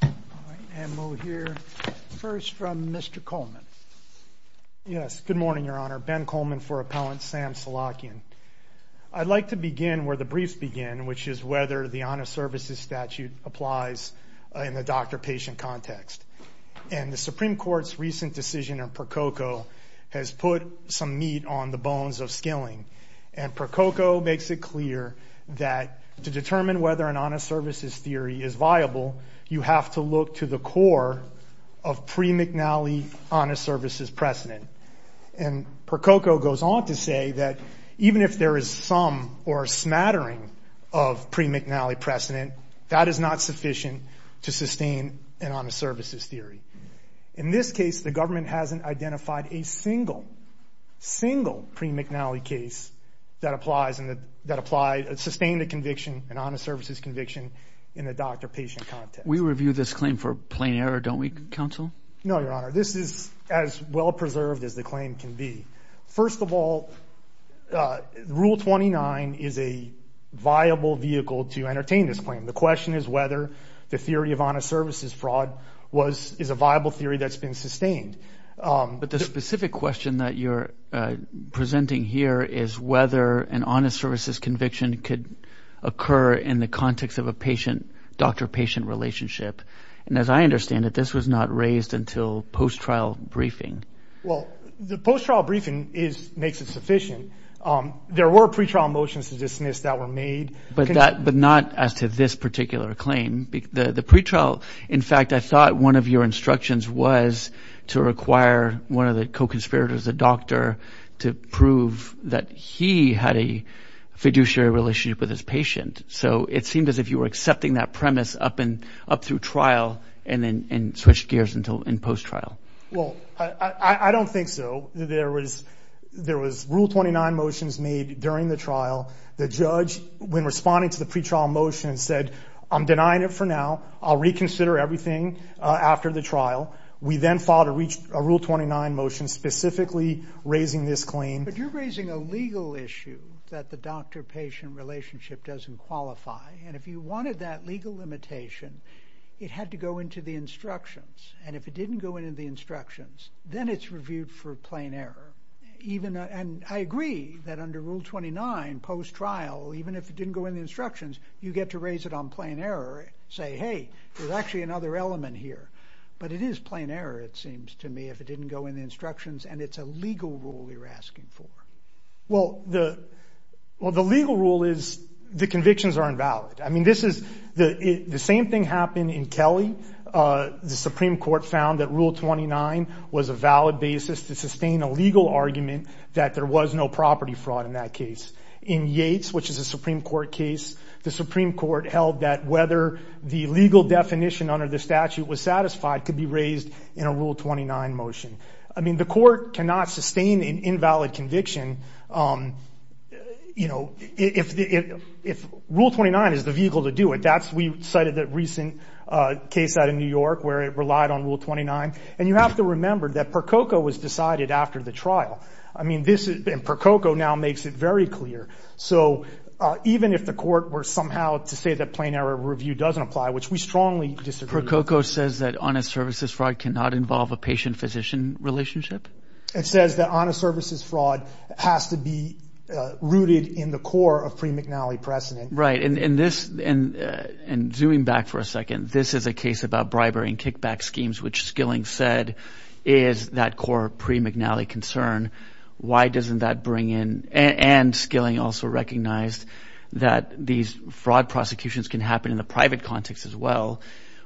And we'll hear first from Mr. Coleman. Yes, good morning, Your Honor. Ben Coleman for Appellant Sam Solakyan. I'd like to begin where the briefs begin, which is whether the Honest Services Statute applies in the doctor-patient context. And the Supreme Court's recent decision in Prococo has put some meat on the bones of skilling. And Prococo makes it clear that to determine whether an honest services theory is viable, you have to look to the core of pre-McNally honest services precedent. And Prococo goes on to say that even if there is some or a smattering of pre-McNally precedent, that is not sufficient to sustain an honest services theory. In this case, the government hasn't identified a single, single pre-McNally case that applied, sustained a conviction, an honest services conviction in the doctor-patient context. We review this claim for plain error, don't we, Counsel? No, Your Honor. This is as well-preserved as the claim can be. First of all, Rule 29 is a viable vehicle to entertain this claim. The question is whether the theory of honest services fraud is a viable theory that's been sustained. But the specific question that you're presenting here is whether an honest services conviction could occur in the context of a patient-doctor-patient relationship. And as I understand it, this was not raised until post-trial briefing. Well, the post-trial briefing makes it sufficient. There were pre-trial motions to dismiss that were made. But not as to this particular claim. The pre-trial, in fact, I thought one of your instructions was to require one of the co-conspirators, the doctor, to prove that he had a fiduciary relationship with his patient. So it seemed as if you were accepting that premise up through trial and then switched gears in post-trial. Well, I don't think so. There was Rule 29 motions made during the trial. The judge, when responding to the pre-trial motion, said, I'm denying it for now. I'll reconsider everything after the trial. We then filed a Rule 29 motion specifically raising this claim. But you're raising a legal issue that the doctor-patient relationship doesn't qualify. And if you wanted that legal limitation, it had to go into the instructions. And if it didn't go into the instructions, then it's reviewed for plain error. And I agree that under Rule 29, post-trial, even if it didn't go in the instructions, you get to raise it on plain error and say, hey, there's actually another element here. But it is plain error, it seems to me, if it didn't go in the instructions and it's a legal rule you're asking for. Well, the legal rule is the convictions are invalid. I mean, the same thing happened in Kelly. The Supreme Court found that Rule 29 was a valid basis to sustain a legal argument that there was no property fraud in that case. In Yates, which is a Supreme Court case, the Supreme Court held that whether the legal definition under the statute was satisfied could be raised in a Rule 29 motion. I mean, the court cannot sustain an invalid conviction, you know, if Rule 29 is the vehicle to do it. That's, we cited the recent case out of New York where it relied on Rule 29. And you have to remember that under the trial. I mean, this, and Prococo now makes it very clear. So even if the court were somehow to say that plain error review doesn't apply, which we strongly disagree with. Prococo says that honest services fraud cannot involve a patient-physician relationship? It says that honest services fraud has to be rooted in the core of pre-McNally precedent. Right. And this, and zooming back for a second, this is a case about bribery and kickback schemes, which Skilling said is that core pre-McNally concern. Why doesn't that bring in, and Skilling also recognized that these fraud prosecutions can happen in the private context as well.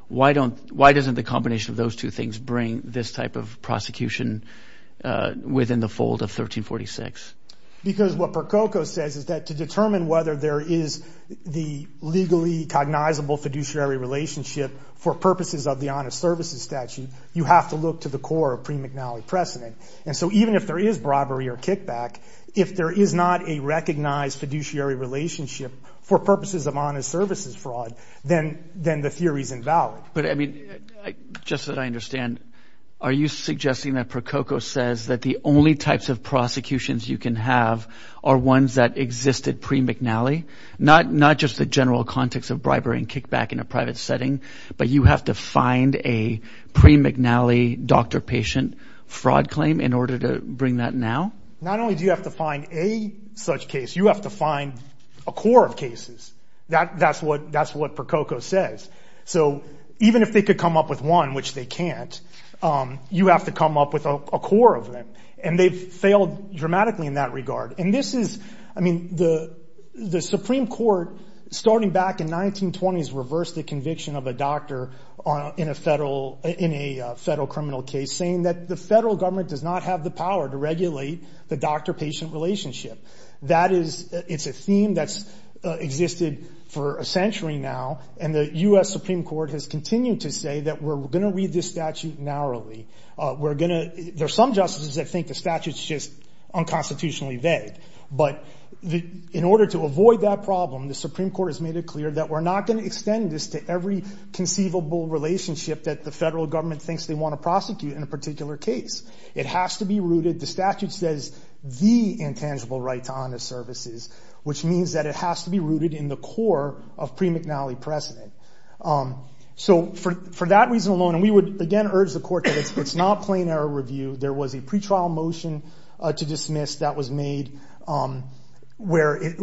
Why don't, why doesn't the combination of those two things bring this type of prosecution within the fold of 1346? Because what Prococo says is that to determine whether there is the legally cognizable fiduciary relationship for purposes of the honest services statute, you have to look to the core of pre-McNally precedent. And so even if there is bribery or kickback, if there is not a recognized fiduciary relationship for purposes of honest services fraud, then, then the theory is invalid. But I mean, just that I understand, are you suggesting that Prococo says that the only types of prosecutions you can have are ones that existed pre-McNally? Not, not just the general context of bribery and kickback in a private setting, but you have to find a pre-McNally doctor-patient fraud claim in order to bring that now? Not only do you have to find a such case, you have to find a core of cases. That, that's what, that's what Prococo says. So even if they could come up with one, which they can't, you have to come up with a core of them. And they've failed dramatically in that regard. And this is, I mean, the, the Supreme Court, starting back in 1920s, reversed the conviction of a doctor on, in a federal, in a federal criminal case, saying that the federal government does not have the power to regulate the doctor-patient relationship. That is, it's a theme that's existed for a century now. And the U.S. Supreme Court has continued to say that we're going to read this statute narrowly. We're going to, there's some justices that think the statute's just unconstitutionally vague. But the, in order to avoid that problem, the Supreme Court has made it clear that we're not going to extend this to every conceivable relationship that the federal government thinks they want to prosecute in a particular case. It has to be rooted, the statute says, the intangible right to honest services, which means that it has to be rooted in the core of pre-McNally precedent. So for, for that reason alone, and we would, again, urge the court that it's, it's not plain error review. There was a pretrial motion to dismiss that was made, where it,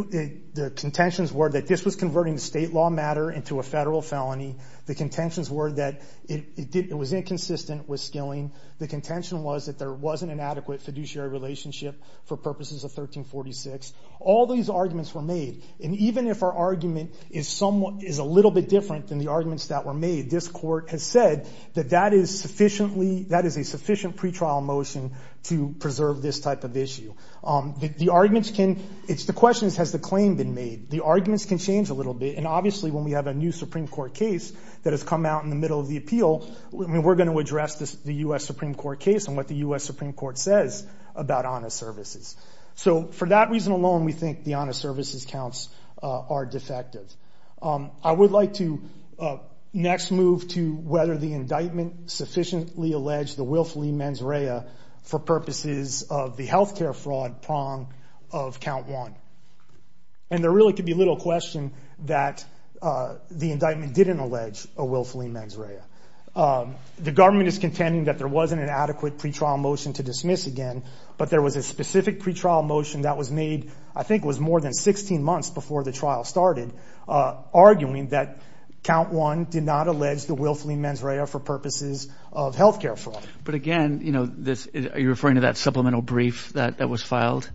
the contentions were that this was converting state law matter into a federal felony. The contentions were that it, it did, it was inconsistent with skilling. The contention was that there wasn't an adequate fiduciary relationship for purposes of 1346. All these arguments were made. And even if our argument is somewhat, is a little bit different than the arguments that were made, this court has said that that is sufficiently, that is a sufficient pretrial motion to preserve this type of issue. The arguments can, it's the question, has the claim been made? The arguments can change a little bit. And obviously when we have a new Supreme Court case that has come out in the middle of the appeal, I mean, we're going to address this, the U.S. Supreme Court case and what the U.S. Supreme Court says about honest services. So for that reason alone, we think the honest services are defective. I would like to next move to whether the indictment sufficiently alleged the willfully mens rea for purposes of the healthcare fraud prong of count one. And there really could be little question that the indictment didn't allege a willfully mens rea. The government is contending that there wasn't an adequate pretrial motion to dismiss again, but there was a specific pretrial motion that was made, I think it was more than 16 months before the trial started, uh, arguing that count one did not allege the willfully mens rea for purposes of healthcare fraud. But again, you know this, are you referring to that supplemental brief that that was filed?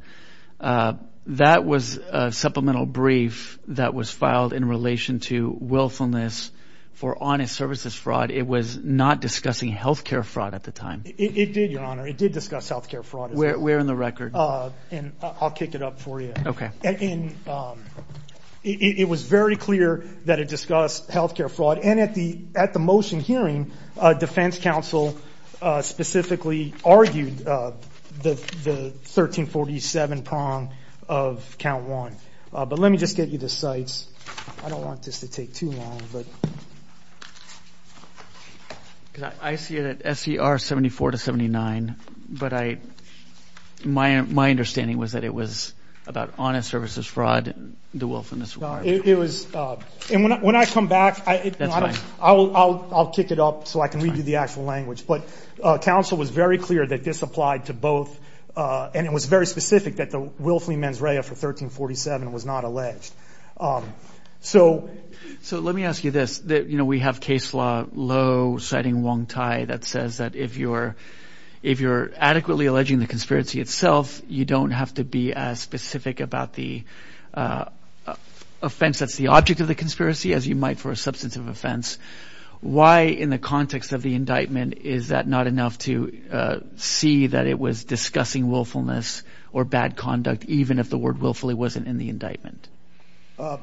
Uh, that was a supplemental brief that was filed in relation to willfulness for honest services fraud. It was not discussing healthcare fraud at the time. It did, Your Honor. It did discuss healthcare fraud. We're in the record. Uh, and I'll kick it up for you. Okay. And, um, it was very clear that it discussed healthcare fraud and at the, at the motion hearing, uh, defense counsel, uh, specifically argued, uh, the, the 1347 prong of count one. Uh, but let me just get you the sites. I don't see it at SCR 74 to 79, but I, my, my understanding was that it was about honest services fraud and the willfulness. It was, uh, and when I, when I come back, I, I'll, I'll, I'll kick it up so I can read you the actual language. But, uh, counsel was very clear that this applied to both. Uh, and it was very specific that the willfully mens rea for 1347 was not alleged. Um, so, so let me ask you this, that, you know, we have case law low citing Wong Thai that says that if you're, if you're adequately alleging the conspiracy itself, you don't have to be as specific about the, uh, offense. That's the object of the conspiracy as you might for a substance of offense. Why in the context of the indictment, is that not enough to, uh, see that it was discussing willfulness or bad conduct, even if the word willfully wasn't in the indictment? Uh,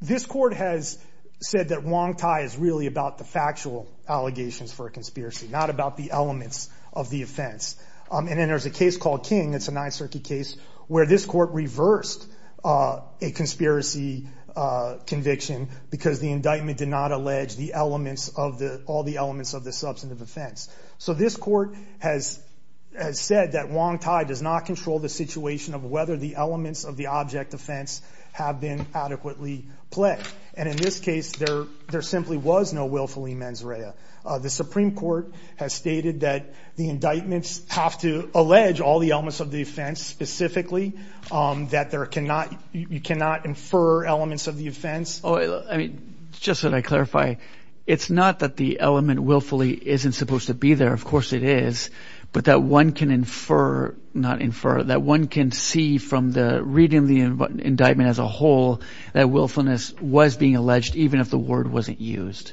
this court has said that Wong Thai is really about the factual allegations for a conspiracy, not about the elements of the offense. Um, and then there's a case called King. It's a ninth circuit case where this court reversed, uh, a conspiracy, uh, conviction because the indictment did not allege the elements of the, all the elements of the substantive offense. So this court has, has said that Wong Thai does not control the situation of whether the elements of the object offense have been a willfully mens rea. Uh, the Supreme Court has stated that the indictments have to allege all the elements of the offense specifically, um, that there cannot, you cannot infer elements of the offense. Oh, I mean, just so that I clarify, it's not that the element willfully isn't supposed to be there. Of course it is, but that one can infer, not infer that one can see from the reading of the indictment as a whole, that willfulness was being alleged, even if the word wasn't used.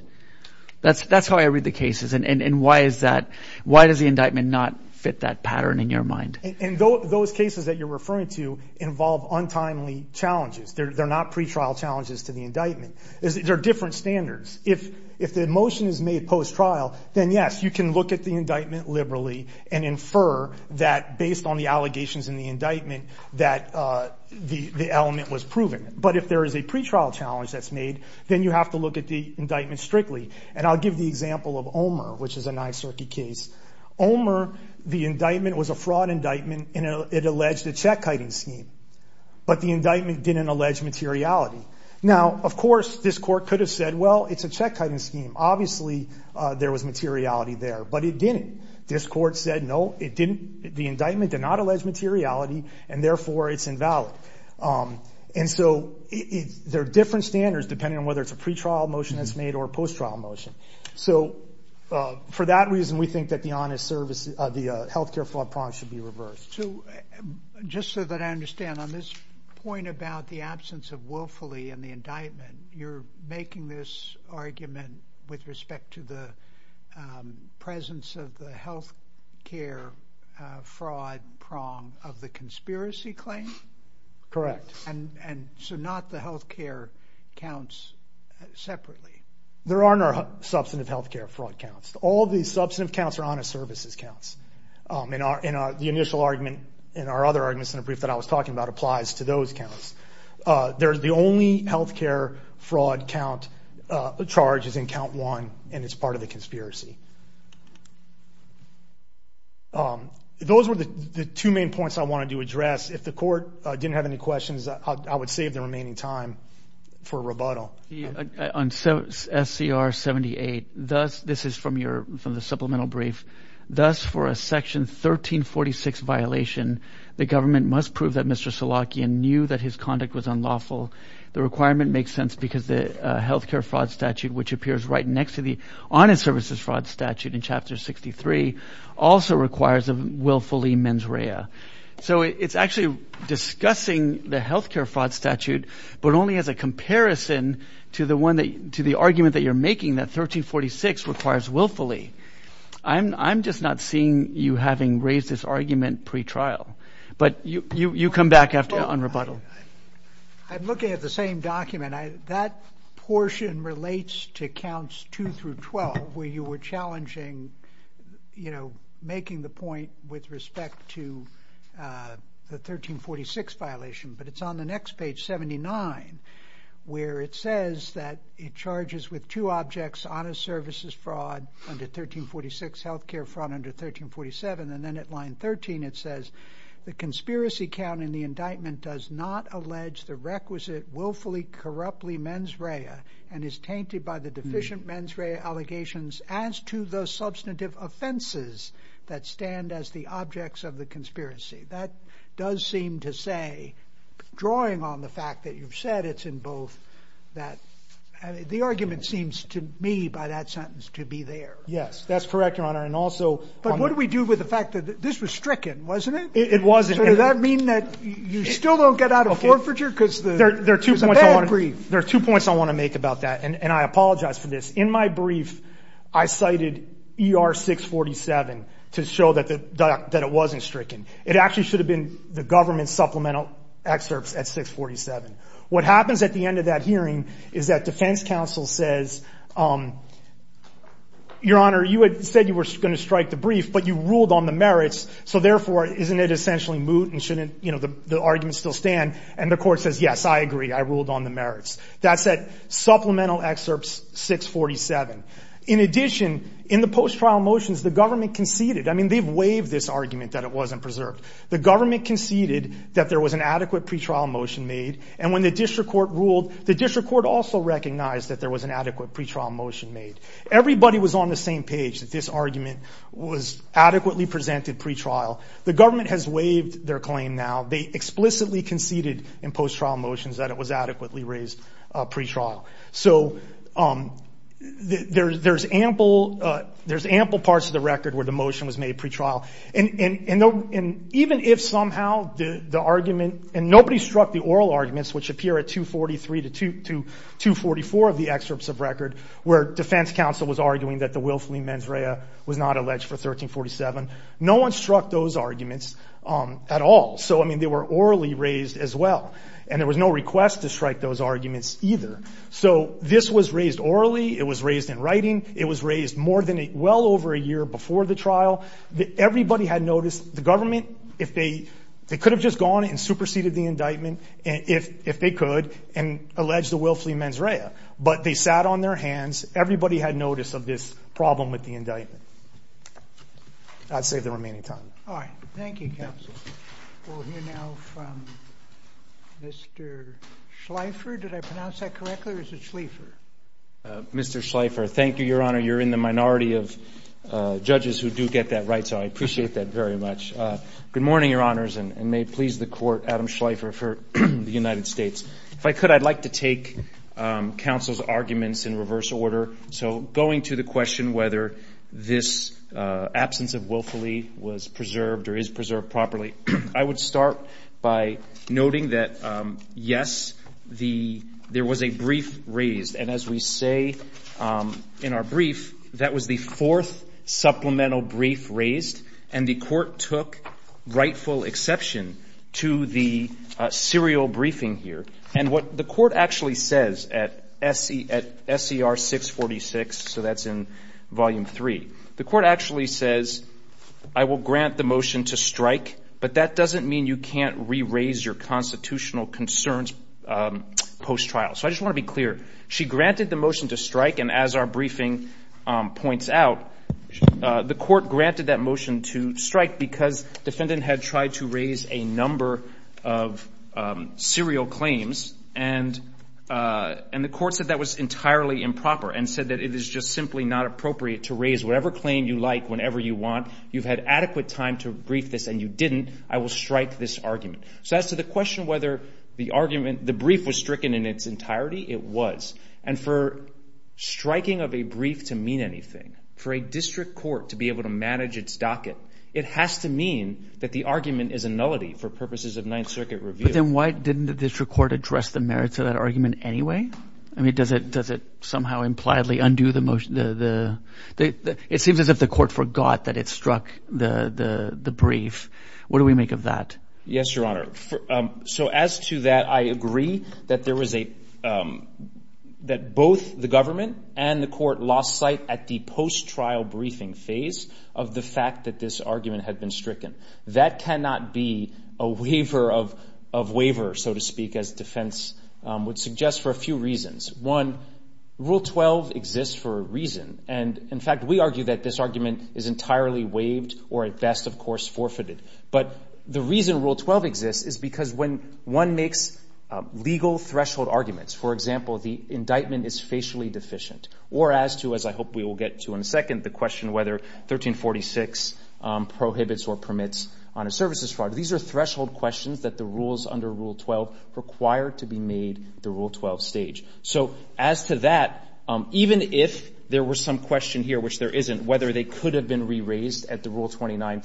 That's, that's how I read the cases. And why is that? Why does the indictment not fit that pattern in your mind? And those cases that you're referring to involve untimely challenges. They're not pretrial challenges to the indictment. They're different standards. If, if the motion is made post trial, then yes, you can look at the indictment liberally and infer that based on the allegations in the indictment that, uh, the, the element was proven. But if there is a pretrial challenge that's made, then you have to look at the indictment strictly. And I'll give the example of Omer, which is a nine circuit case. Omer, the indictment was a fraud indictment and it alleged a check hiding scheme, but the indictment didn't allege materiality. Now, of course, this court could have said, well, it's a check hiding scheme. Obviously, uh, there was materiality there, but it didn't. This court said, no, it didn't. The indictment did not allege materiality and therefore it's invalid. Um, and so it's, there are different standards depending on whether it's a pretrial motion that's made or post trial motion. So, uh, for that reason, we think that the honest service, uh, the, uh, healthcare fraud prong should be reversed. So just so that I understand on this point about the absence of willfully and the indictment, you're making this argument with respect to the, um, presence of the healthcare, uh, fraud prong of the conspiracy claim. Correct. And, and so not the healthcare counts separately. There are no substantive healthcare fraud counts. All the substantive counts are honest services counts. Um, in our, in our, the initial argument in our other arguments in a brief that I was talking about applies to those counts. Uh, there's the only healthcare fraud count, uh, charge is in count one and it's part of the conspiracy. Um, those were the two main points I wanted to address. If the court didn't have any questions, I would save the remaining time for rebuttal on SCR 78. Thus, this is from your, from the supplemental brief. Thus for a section 1346 violation, the government must prove that Mr. Solakian knew that his conduct was unlawful. The requirement makes sense because the, uh, healthcare fraud statute, which appears right next to the honest services fraud statute in chapter 63 also requires a willfully mens rea. So it's actually discussing the healthcare fraud statute, but only as a comparison to the one that, to the argument that you're making that 1346 requires willfully. I'm, I'm just not seeing you having raised this argument pretrial, but you, you, you'll come back after on rebuttal. I'm looking at the same document. I, that portion relates to accounts two through 12 where you were challenging, you know, making the point with respect to, uh, the 1346 violation, but it's on the next page 79 where it says that it charges with two objects, honest services fraud under 1346 healthcare fraud under 1347. And then at line 13, it says the conspiracy count in the indictment does not allege the requisite willfully corruptly mens rea and is tainted by the deficient mens rea allegations as to those substantive offenses that stand as the objects of the conspiracy. That does seem to say drawing on the fact that you've said it's in both that the argument seems to me by that sentence to be there. Yes, that's correct. Your honor. And also, but what do we do with the fact that this was stricken, wasn't it? It wasn't. Does that mean that you still don't get out of forfeiture because there are two points I want to make about that. And I apologize for this. In my brief, I cited ER six 47 to show that the doc, that it wasn't stricken. It actually should have been the government supplemental excerpts at six 47. What happens at the end of that hearing is that defense counsel says, um, your honor, you had said you were going to strike the brief, but you ruled on the merits. So therefore, isn't it essentially moot and shouldn't, you know, the argument still stand? And the court says, yes, I agree. I ruled on the merits. That's that supplemental excerpts six 47. In addition, in the post trial motions, the government conceded, I mean, they've waived this argument that it wasn't preserved. The government conceded that there was an adequate pretrial motion made. And when the district court ruled, the district court also recognized that there was an adequate pretrial motion made. Everybody was on the same page that this argument was adequately presented pretrial. The government has waived their claim now. They explicitly conceded in post trial motions that it was adequately raised pretrial. So there's ample parts of the record where the motion was made pretrial. And even if somehow the argument and nobody struck the oral arguments, which appear at two 43 to two to two 44 of the excerpts of record where defense counsel was arguing that the willfully mens rea was not alleged for 13 47. No one struck those arguments at all. So I mean, they were orally raised as well, and there was no request to strike those arguments either. So this was raised orally. It was raised in writing. It was raised more than well over a year before the trial that everybody had noticed the government. If they could have just gone and superseded the indictment, if they could and alleged the willfully mens rea, but they sat on their hands. Everybody had notice of this problem with the indictment. I'd say the remaining time. All right. Thank you. We'll hear now from Mr Schleifer. Did I pronounce that correctly? Or is it Schleifer? Mr Schleifer. Thank you, Your Honor. You're in the minority of judges who do get that right, so I appreciate that very much. Good morning, Your Honors, and may it please the Court, Adam Schleifer for the United States. If I could, I'd like to take counsel's arguments in reverse order. So going to the question whether this absence of willfully was preserved or is preserved properly, I would start by noting that, yes, there was a brief raised, and as we say in our brief, that was the fourth supplemental brief raised, and the Court took rightful exception to the serial briefing here. And what the Court actually says at SER 646, so that's in Volume 3, the Court actually says, I will grant the motion to strike, but that doesn't mean you can't re-raise your constitutional concerns post-trial. So I just want to be clear. She granted the motion to strike, and as our briefing points out, the Court granted that motion to strike because defendant had tried to raise a number of serial claims, and the Court said that was entirely improper and said that it is just simply not appropriate to raise whatever claim you like whenever you want. You've had adequate time to brief this, and you didn't. I will strike this argument. So as to the question whether the argument, the brief was stricken in its entirety, it was. And for striking of a brief to mean anything, for a district court to be able to manage its docket, it has to mean that the argument is a nullity for purposes of Ninth Circuit review. But then why didn't the district court address the merits of that argument anyway? I mean, does it somehow impliedly undo the motion? It seems as if the Court forgot that it struck the brief. What do we make of that? Yes, Your Honor. So as to that, I agree that both the government and the Court lost sight at the post-trial briefing phase of the fact that this argument had been stricken. That cannot be a waiver of waiver, so to speak, as defense would suggest, for a few reasons. One, Rule 12 exists for a reason. And in fact, we argue that this argument is entirely waived or at best, of course, forfeited. But the reason Rule 12 exists is because when one makes legal threshold arguments, for example, the indictment is facially deficient, or as to, as I hope we will get to in a second, the question whether 1346 prohibits or permits on a services fraud. These are threshold questions that the rules under Rule 12 require to be made at the Rule 12 stage. So as to that, even if there were some question here, which there isn't, whether they could have been re-raised at the Rule 29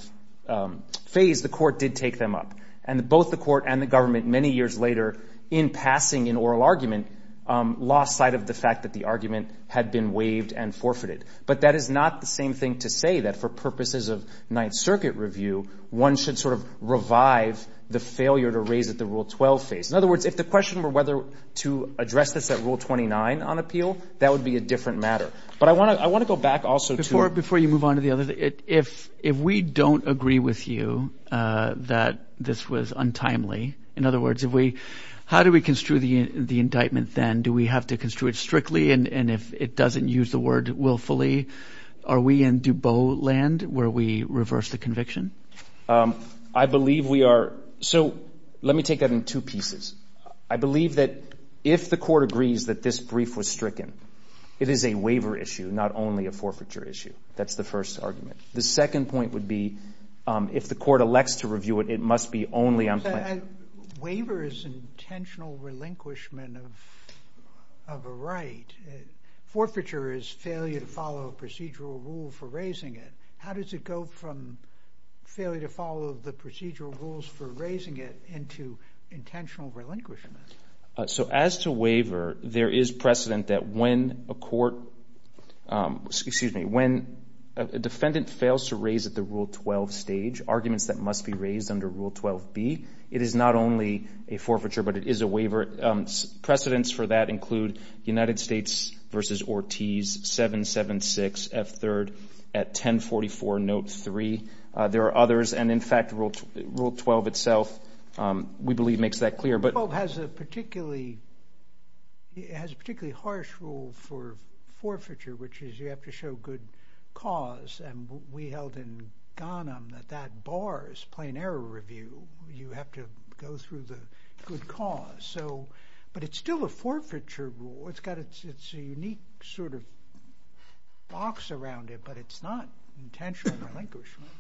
phase, the Court did take them up. And both the Court and the government, many years later, in passing an oral argument, lost sight of the fact that the argument had been waived and forfeited. But that is not the same thing to say that for purposes of Ninth Circuit review, one should sort of revive the failure to raise at the Rule 12 phase. In other words, if the question were whether to address this at Rule 29 on appeal, that would be a different matter. But I want to go back also to... Before you move on to the other thing, if we don't agree with you that this was untimely, in other words, how do we construe the indictment then? Do we have to construe it strictly? And if it doesn't use the word willfully, are we in DuBois land where we reverse the conviction? I believe we are. So let me take that in two pieces. I believe that if the Court agrees that this brief was stricken, it is a waiver issue, not only a forfeiture issue. That's the first argument. The second point would be, if the Court elects to review it, it must be only unplanned. Waiver is intentional relinquishment of a right. Forfeiture is failure to follow a procedural rule for raising it. How does it go from failure to follow the procedural rules for raising it into intentional relinquishment? So as to waiver, there is precedent that when a court... Excuse me. When a defendant fails to raise at the Rule 12 stage, arguments that must be raised under Rule 12b, it is not only a forfeiture, but it is a waiver. Precedents for that include United States v. Ortiz, 776 F. 3rd at 1044 Note 3. There are others. And in fact, Rule 12 itself, we believe, makes that clear. But Rule 12 has a particularly harsh rule for forfeiture, which is you have to show good cause. And we held in Ghanem that that bars plain error review. You have to go through the good cause. But it's still a forfeiture rule. It's got a unique sort of box around it, but it's not intentional relinquishment.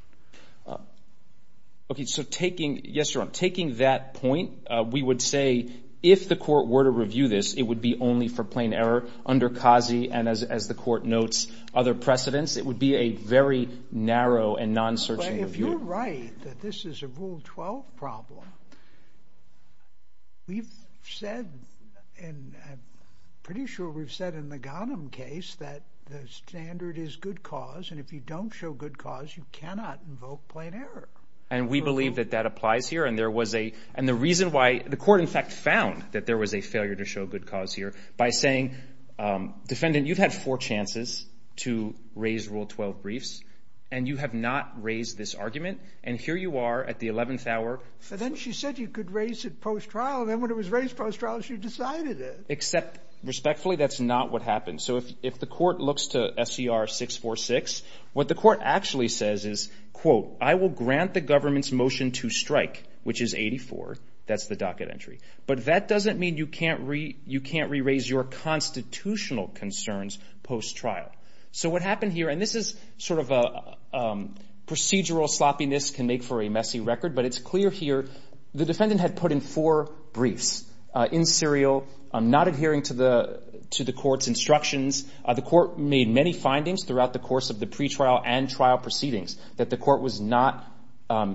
Okay. So taking... Yes, Your Honor. Taking that point, we would say if the court were to review this, it would be only for plain error under CASI. And as the court notes, other precedents. It would be a very narrow and non-searching review. But if you're right that this is a Rule 12 problem, we've said, and I'm pretty sure we've said in the Ghanem case, that the standard is good cause. And if you don't show good cause, you cannot invoke plain error. And we believe that that applies here. And there was a... And the reason why... The court, in fact, found that there was a failure to show good cause here by saying, defendant, you've had four chances to raise Rule 12 briefs, and you have not raised this argument. And here you are at the 11th hour. But then she said you could raise it post-trial. And then when it was raised post-trial, she decided it. Except, respectfully, that's not what happened. So if the court looks to SCR 646, what the statute basically says is, quote, I will grant the government's motion to strike, which is 84. That's the docket entry. But that doesn't mean you can't re-raise your constitutional concerns post-trial. So what happened here, and this is sort of a procedural sloppiness can make for a messy record, but it's clear here, the defendant had put in four briefs, in serial, not adhering to the court's instructions. The court made many findings throughout the course of the pretrial and trial proceedings that the court was not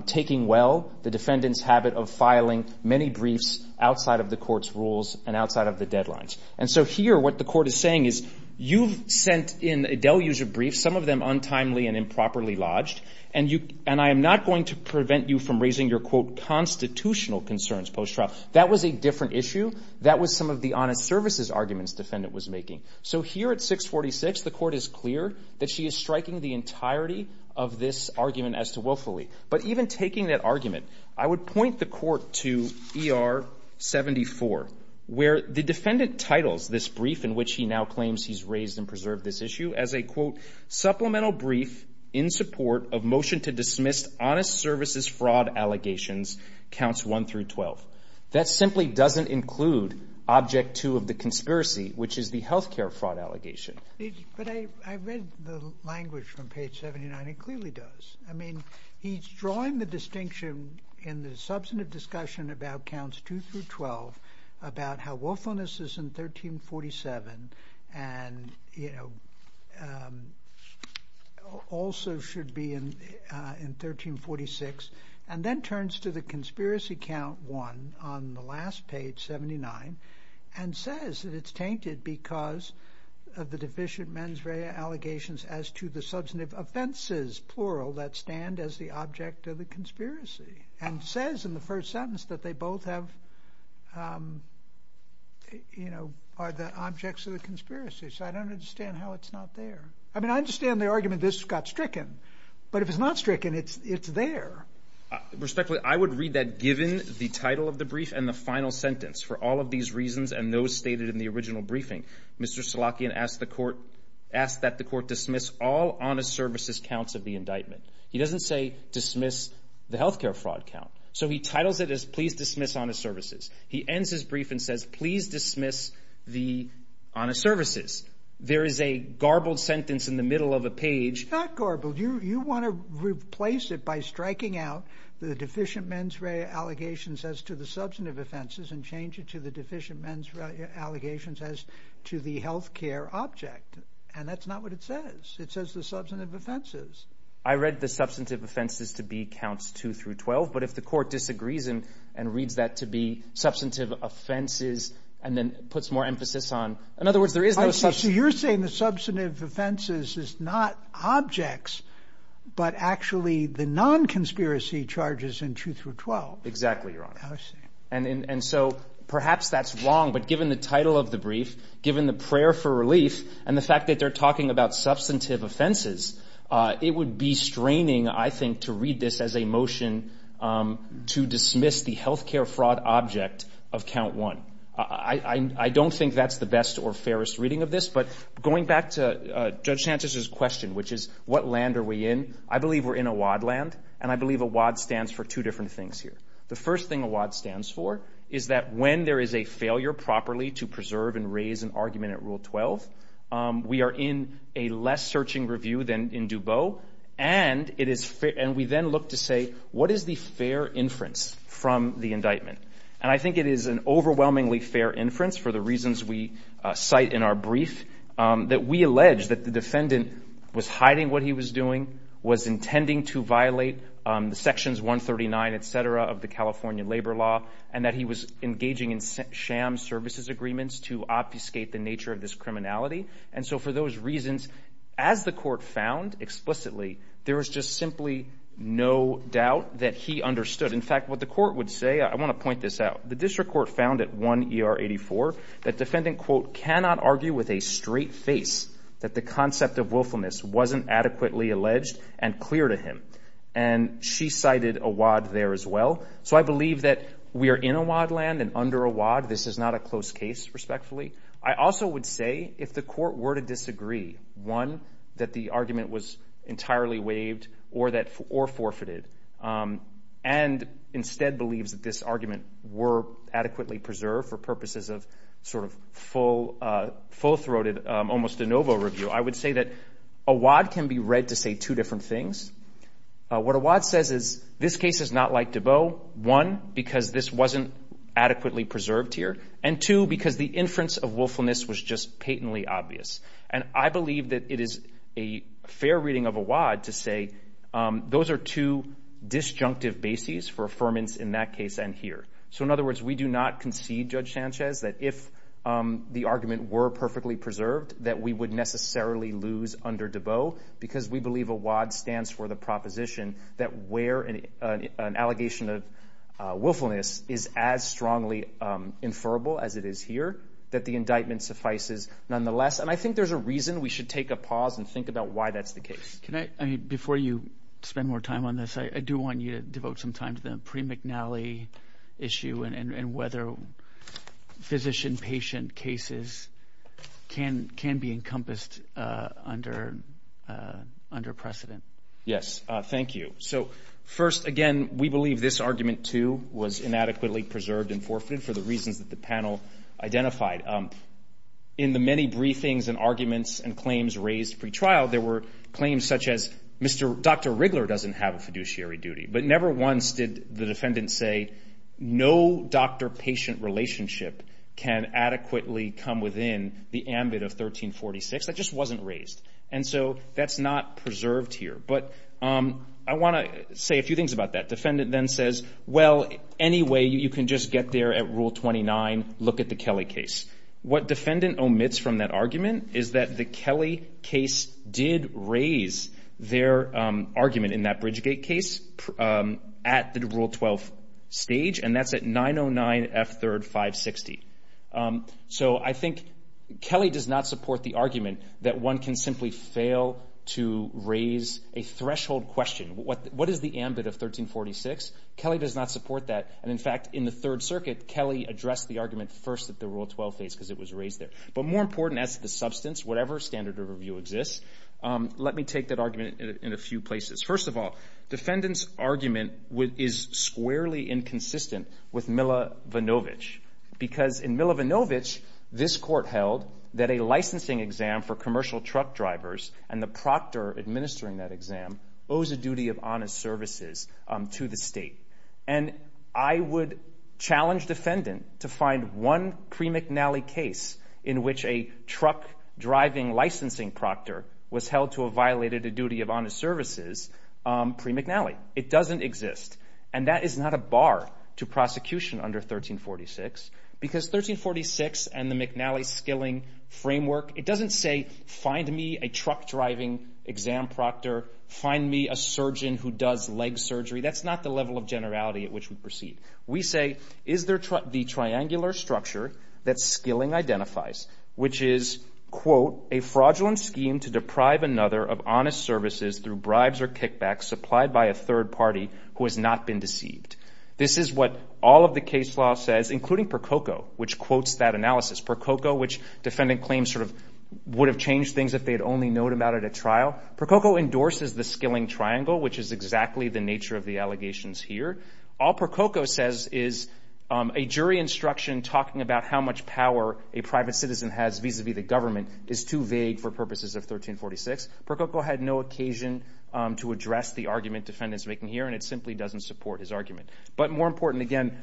taking well the defendant's habit of filing many briefs outside of the court's rules and outside of the deadlines. And so here, what the court is saying is, you've sent in delusive briefs, some of them untimely and improperly lodged, and I am not going to prevent you from raising your, quote, constitutional concerns post-trial. That was a different issue. That was some of the honest services arguments the defendant was making. So here at 646, the court is clear that she is striking the entirety of this argument as to willfully. But even taking that argument, I would point the court to ER 74, where the defendant titles this brief in which he now claims he's raised and preserved this issue as a, quote, supplemental brief in support of motion to dismiss honest services fraud allegations, counts 1 through 12. That simply doesn't include object 2 of the conspiracy, which is the health care fraud allegation. But I read the language from page 79. It clearly does. I mean, he's drawing the distinction in the substantive discussion about counts 2 through 12 about how willfulness is in 1347 and, you know, also should be in 1346, and then turns to the conspiracy count 1 on the last page, 79, and says that it's tainted because of the deficient mens rea allegations as to the substantive offenses, plural, that stand as the object of the conspiracy, and of the conspiracy. So I don't understand how it's not there. I mean, I understand the argument this got stricken, but if it's not stricken, it's it's there respectfully. I would read that given the title of the brief and the final sentence for all of these reasons and those stated in the original briefing, Mr. Slotkin asked the court asked that the court dismiss all honest services counts of the indictment. He doesn't say dismiss the health care fraud count, so he titles it as please dismiss honest services. He ends his brief and says please dismiss the honest services. There is a garbled sentence in the middle of a page. It's not garbled. You want to replace it by striking out the deficient mens rea allegations as to the substantive offenses and change it to the deficient mens rea allegations as to the health care object, and that's not what it says. It says the substantive offenses. I read the substantive offenses to be counts 2 through 12, but if the court disagrees and reads that to be substantive offenses and then puts more emphasis on. In other words, there is no. So you're saying the substantive offenses is not objects, but actually the non conspiracy charges in 2 through 12. Exactly. You're honest. And so perhaps that's wrong. But given the title of the brief, given the prayer for relief and the fact that they're talking about substantive offenses, it would be straining, I think, to read this as a motion to dismiss the health care fraud object of count one. I don't think that's the best or fairest reading of this, but going back to Judge Sanchez's question, which is what land are we in? I believe we're in a WAD land, and I believe a WAD stands for two different things here. The first thing a WAD stands for is that when there is a failure properly to preserve and raise an argument at Rule 12, we are in a less searching review than in Dubot. And we then look to say, what is the fair inference from the indictment? And I think it is an overwhelmingly fair inference for the reasons we cite in our brief, that we allege that the defendant was hiding what he was doing, was intending to violate the sections 139, et cetera, of the California labor law, and that he was engaging in sham services agreements to obfuscate the nature of this criminality. And so for those reasons, as the court found explicitly, there was just simply no doubt that he understood. In fact, what the court would say, I want to point this out, the district court found at 1 ER 84, that defendant, quote, cannot argue with a straight face that the concept of willfulness wasn't adequately alleged and clear to him. And she cited a WAD there as well. So I believe that we are in a WAD land and under a WAD. This is not a close case, respectfully. I also would say, if the court were to disagree, one, that the argument was entirely waived or forfeited, and instead believes that this argument were adequately preserved for purposes of sort of full-throated, almost de novo review, I would say that a WAD can be read to say two different things. What a WAD says is, this case is not like Debeau, one, because this wasn't adequately preserved here, and two, because the inference of willfulness was just patently obvious. And I believe that it is a fair reading of a WAD to say those are two disjunctive bases for affirmance in that case and here. So in other words, we do not concede, Judge Sanchez, that if the argument were perfectly preserved, that we would necessarily lose under Debeau, because we believe a WAD stands for the proposition that where an allegation of willfulness is as strongly inferable as it is here, that the indictment suffices nonetheless. And I think there's a reason we should take a pause and think about why that's the case. Can I, before you spend more time on this, I do want you to devote some time to the Pre-McNally issue and whether physician-patient cases can be encompassed under precedent. Yes, thank you. So first, again, we believe this argument, too, was inadequately preserved and forfeited for the reasons that the panel identified. In the many briefings and arguments and claims raised pre-trial, there were claims such as, Dr. Riggler doesn't have a fiduciary duty. But never once did the defendant say, no doctor-patient relationship can adequately come within the ambit of 1346. That just wasn't raised. And so that's not preserved here. But I want to say a few things about that. Defendant then says, well, anyway, you can just get there at Rule 29, look at the Kelly case. What defendant omits from that argument is that the Kelly case did raise their argument in that Bridgegate case at the Rule 12 stage, and that's at 909 F3rd 560. So I think Kelly does not support the argument that one can simply fail to raise a threshold question. What is the ambit of 1346? Kelly does not support that. And in fact, in the Third Circuit, Kelly addressed the argument first at the Rule 12 phase because it was raised there. But more important as the substance, whatever standard of review exists, let me take that argument in a few places. First of all, defendant's argument is squarely inconsistent with Milovanovich because in Milovanovich, this court held that a licensing exam for commercial truck drivers and the proctor administering that exam owes a duty of honest services to the state. And I would challenge defendant to find one pre-McNally case in which a truck driving licensing proctor was held to have violated a duty of honest services pre-McNally. It doesn't exist. And that is not a bar to prosecution under 1346 because 1346 and the McNally-Skilling framework, it doesn't say find me a truck driving exam proctor, find me a surgeon who does leg surgery. That's not the level of generality at which we proceed. We say, is there the triangular structure that Skilling identifies, which is, quote, a fraudulent scheme to deprive another of honest services through bribes or kickbacks supplied by a third party who has not been deceived. This is what all of the case law says, including Prococo, which quotes that analysis, Prococo, which defendant claims sort of would have changed things if they had only known about it at trial. Prococo endorses the Skilling triangle, which is exactly the nature of the allegations here. All Prococo says is a jury instruction talking about how much power a private citizen has vis-a-vis the government is too vague for argument defendants making here, and it simply doesn't support his argument. But more important again,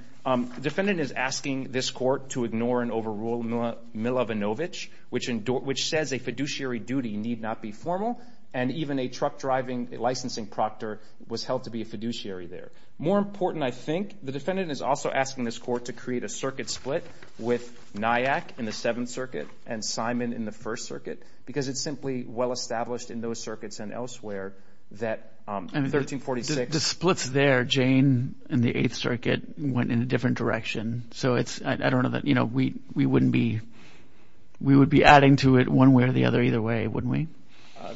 defendant is asking this court to ignore and overrule Milovanovich, which says a fiduciary duty need not be formal, and even a truck driving licensing proctor was held to be a fiduciary there. More important, I think, the defendant is also asking this court to create a circuit split with Nyack in the Seventh Circuit and Simon in the First Circuit because it's simply well the splits there, Jane and the Eighth Circuit went in a different direction. So it's, I don't know that, you know, we wouldn't be, we would be adding to it one way or the other either way, wouldn't we?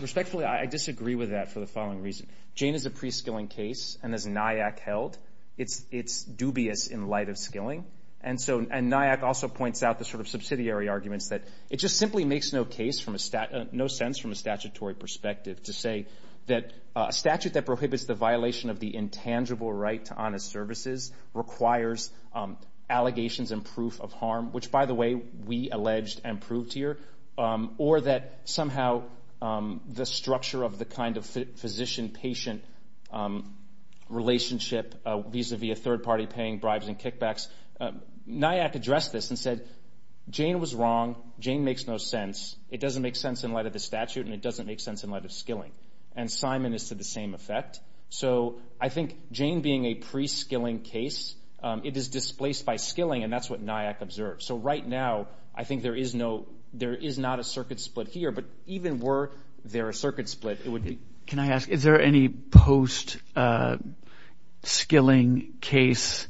Respectfully, I disagree with that for the following reason. Jane is a pre-Skilling case, and as Nyack held, it's dubious in light of Skilling. And Nyack also points out the sort of subsidiary arguments that it just simply makes no sense from a statutory perspective to say that a statute that prohibits the violation of the intangible right to honest services requires allegations and proof of harm, which by the way, we alleged and proved here, or that somehow the structure of the kind of physician-patient relationship vis-a-vis a third party paying bribes and kickbacks, Nyack addressed this and said, Jane was wrong, Jane makes no sense, it doesn't make sense in light of the statute, and it doesn't make sense in light of Skilling. And Simon is to the same effect. So I think Jane being a pre-Skilling case, it is displaced by Skilling, and that's what Nyack observed. So right now, I think there is no, there is not a circuit split here, but even were there a circuit split, it would be. Can I ask, is there any post-Skilling case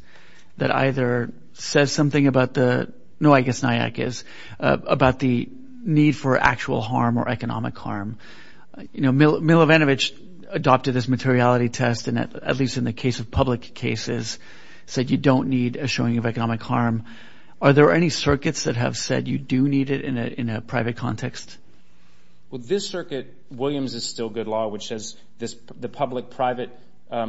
that either says something about the, no, I guess Nyack is, about the need for actual harm or economic harm? You know, Milovanovich adopted this materiality test, and at least in the case of public cases, said you don't need a showing of economic harm. Are there any circuits that have said you do need it in a private context? Well, this circuit, Williams is still good law, which says the public-private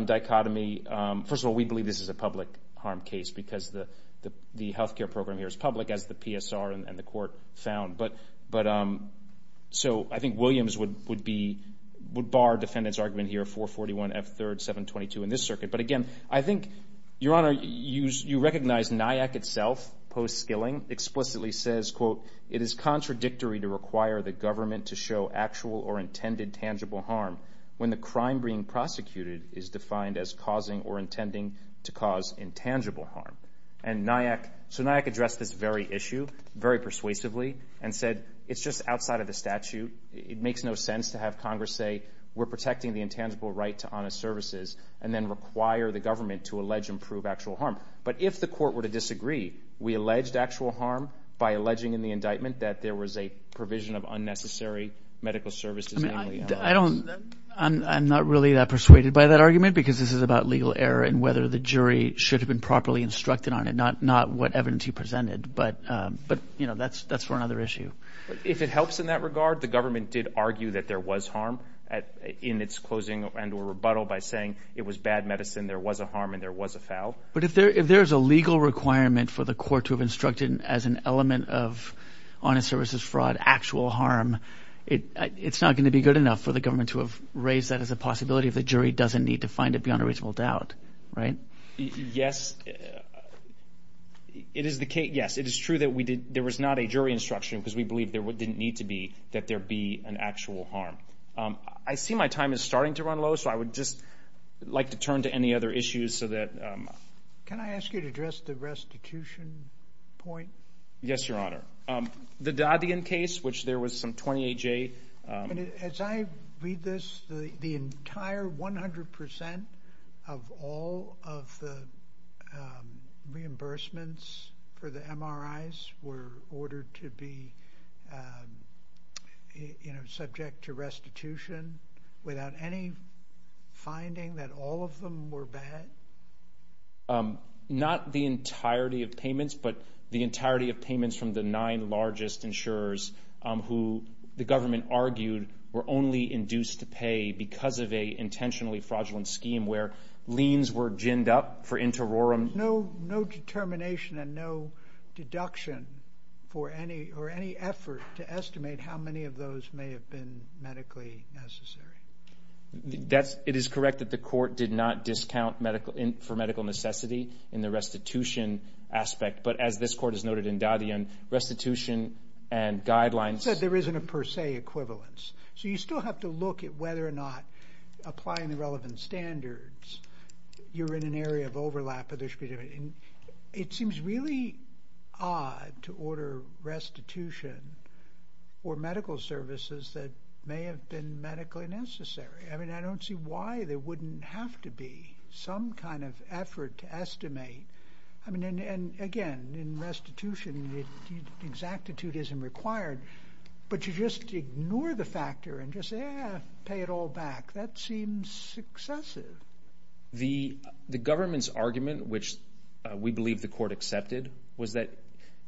dichotomy, first of all, we believe this is a public harm case, because the healthcare program here is public, as the PSR and the court found. But, so I think Williams would be, would bar defendant's argument here, 441F3rd722 in this circuit. But again, I think, Your Honor, you recognize Nyack itself, post-Skilling, explicitly says, quote, it is contradictory to require the government to show actual or intended tangible harm when the crime being prosecuted is defined as causing or intending to cause intangible harm. And Nyack, so Nyack addressed this very issue, very persuasively, and said, it's just outside of the statute. It makes no sense to have Congress say, we're protecting the intangible right to honest services, and then require the government to allege and prove actual harm. But if the court were to disagree, we alleged actual harm by a provision of unnecessary medical services. I don't, I'm not really that persuaded by that argument, because this is about legal error and whether the jury should have been properly instructed on it, not what evidence he presented. But, you know, that's for another issue. If it helps in that regard, the government did argue that there was harm in its closing and or rebuttal by saying it was bad medicine, there was a harm, and there was a foul. But if there is a legal requirement for the court to have instructed as an element of fraud, actual harm, it's not going to be good enough for the government to have raised that as a possibility if the jury doesn't need to find it beyond a reasonable doubt, right? Yes, it is the case, yes, it is true that we did, there was not a jury instruction, because we believe there didn't need to be, that there be an actual harm. I see my time is starting to run low, so I would just like to turn to any other issues so that... Can I ask you to address the restitution point? Yes, Your Honor. The Dadian case, which there was some 28-J... As I read this, the entire 100% of all of the reimbursements for the MRIs were ordered to be subject to restitution without any finding that all of them were bad? No, not the entirety of payments, but the entirety of payments from the nine largest insurers who the government argued were only induced to pay because of an intentionally fraudulent scheme where liens were ginned up for inter rorum. No determination and no deduction for any effort to estimate how many of those may have been medically necessary? That's, it is correct that the court did not discount medical, for medical necessity in the restitution aspect, but as this court has noted in Dadian, restitution and guidelines... You said there isn't a per se equivalence, so you still have to look at whether or not applying the relevant standards, you're in an area of overlap, but there should be... It seems really odd to order restitution for medical services that may have been medically necessary. I mean, I don't see why there wouldn't have to be some kind of effort to estimate. I mean, and again, in restitution, exactitude isn't required, but you just ignore the factor and just pay it all back. That seems successive. The government's argument, which we believe the court accepted, was that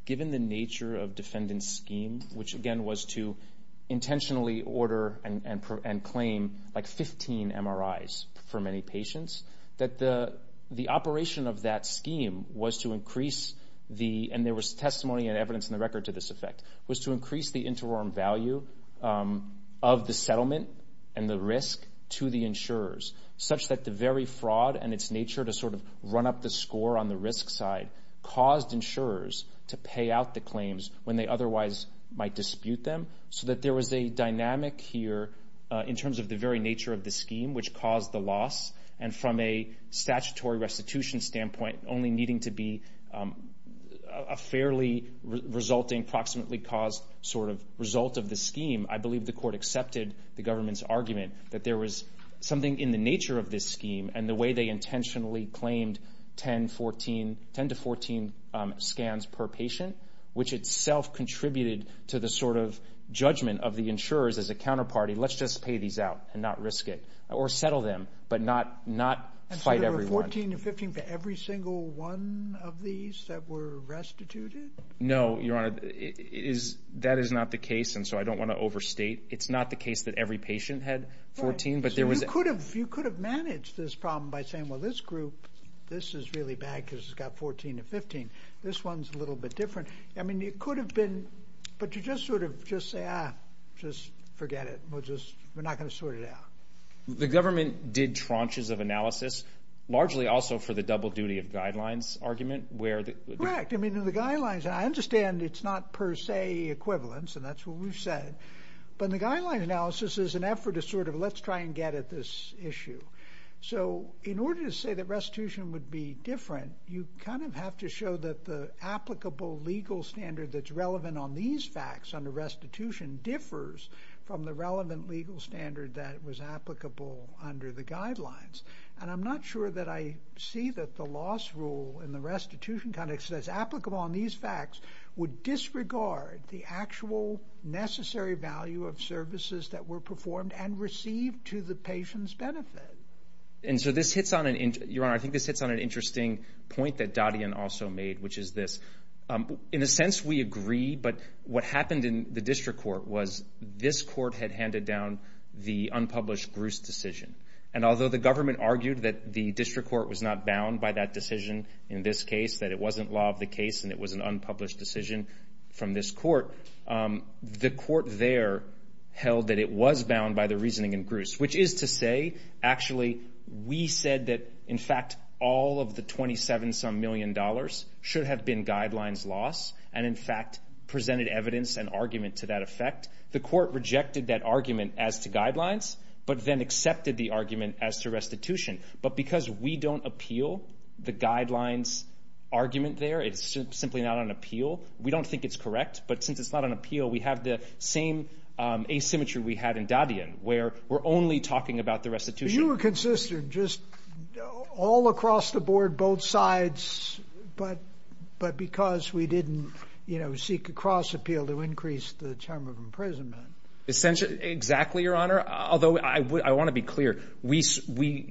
given the nature of defendant's scheme, which again was to intentionally order and claim like 15 MRIs for many patients, that the operation of that scheme was to increase the... And there was testimony and evidence in the record to this effect, was to increase the inter rorum value of the settlement and the risk to the insurers, such that the very fraud and its nature to sort of run up the score on the risk side caused insurers to pay out the claims when they otherwise might dispute them, so that there was a dynamic here in terms of the very nature of the scheme, which caused the loss. And from a statutory restitution standpoint, only needing to be a fairly resulting, proximately caused sort of result of the scheme, I believe the court accepted the government's argument that there was something in the nature of this scheme and the way they intentionally claimed 10, 14, 10 to 14 scans per patient, which itself contributed to the sort of judgment of the insurers as a counterparty, let's just pay these out and not risk it, or settle them, but not fight every one. And so there were 14 and 15 for every single one of these that were restituted? No, Your Honor, that is not the case, and so I don't wanna overstate. It's not the case that every patient had 14, but there was... You could have managed this problem by saying, well, this group, this is really bad because it's got 14 to 15. This one's a little bit different. I mean, it could have been, but you just sort of just say, ah, just forget it. We're not gonna sort it out. The government did tranches of analysis, largely also for the double duty of guidelines argument where... Correct. I mean, in the guidelines, I understand it's not per se equivalence, and that's what we've said, but in the guidelines analysis is an effort to sort of, let's try and get at this issue. So in order to say that restitution would be different, you kind of have to show that the applicable legal standard that's relevant on these facts under restitution differs from the relevant legal standard that was applicable under the guidelines. And I'm not sure that I see that the loss rule in the restitution context that's applicable on these facts would disregard the actual necessary value of services that were performed and received to the patient's benefit. And so this hits on an... Your Honor, I think this hits on an interesting point that Dadian also made, which is this. In a sense, we agree, but what happened in the district court was this court had handed down the unpublished Bruce decision. And although the government argued that the district court was not bound by that decision in this case, that it wasn't law of the case and it was an unpublished decision from this court, the court there held that it was bound by the reasoning in Bruce, which is to say, actually, we said that, in fact, all of the 27 some million dollars should have been guidelines loss, and in fact, presented evidence and argument to that effect. The court rejected that argument as to guidelines, but then accepted the argument as to restitution. But because we don't appeal the guidelines argument there, it's simply not on appeal. We don't think it's correct, but since it's not on appeal, we have the same asymmetry we had in Dadian, where we're only talking about the restitution. You were consistent just all across the board, both sides, but because we didn't seek a cross appeal to increase the term of the case,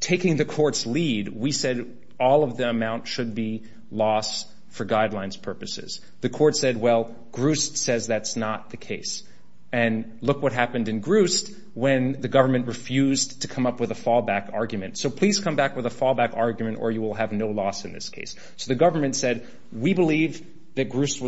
taking the court's lead, we said all of the amount should be loss for guidelines purposes. The court said, well, Groost says that's not the case. And look what happened in Groost when the government refused to come up with a fallback argument. So please come back with a fallback argument or you will have no loss in this case. So the government said, we believe that Groost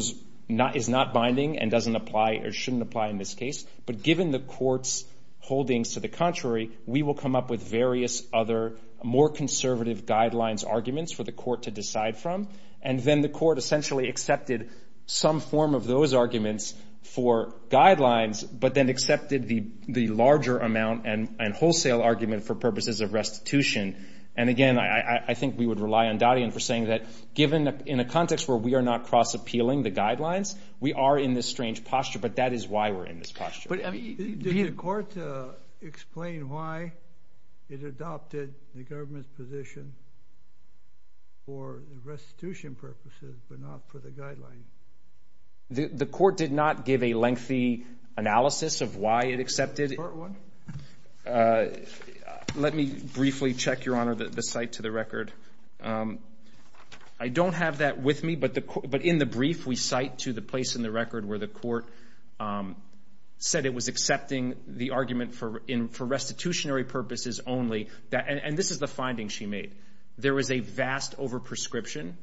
is not binding and doesn't apply or shouldn't apply in this case, but given the court's holdings to the contrary, we will come up with various other more conservative guidelines arguments for the court to decide from. And then the court essentially accepted some form of those arguments for guidelines, but then accepted the larger amount and wholesale argument for purposes of restitution. And again, I think we would rely on Dadian for saying that given in a context where we are not cross appealing the guidelines, we are in this strange posture, but that is why we're in this posture. Did the court explain why it adopted the government's position for restitution purposes, but not for the guidelines? The court did not give a lengthy analysis of why it accepted. Let me briefly check, Your Honor, the site to the record. I don't have that with me, but in the brief, we cite to the place in the record where the court said it was accepting the argument for restitutionary purposes only. And this is the finding she made. There was a vast overprescription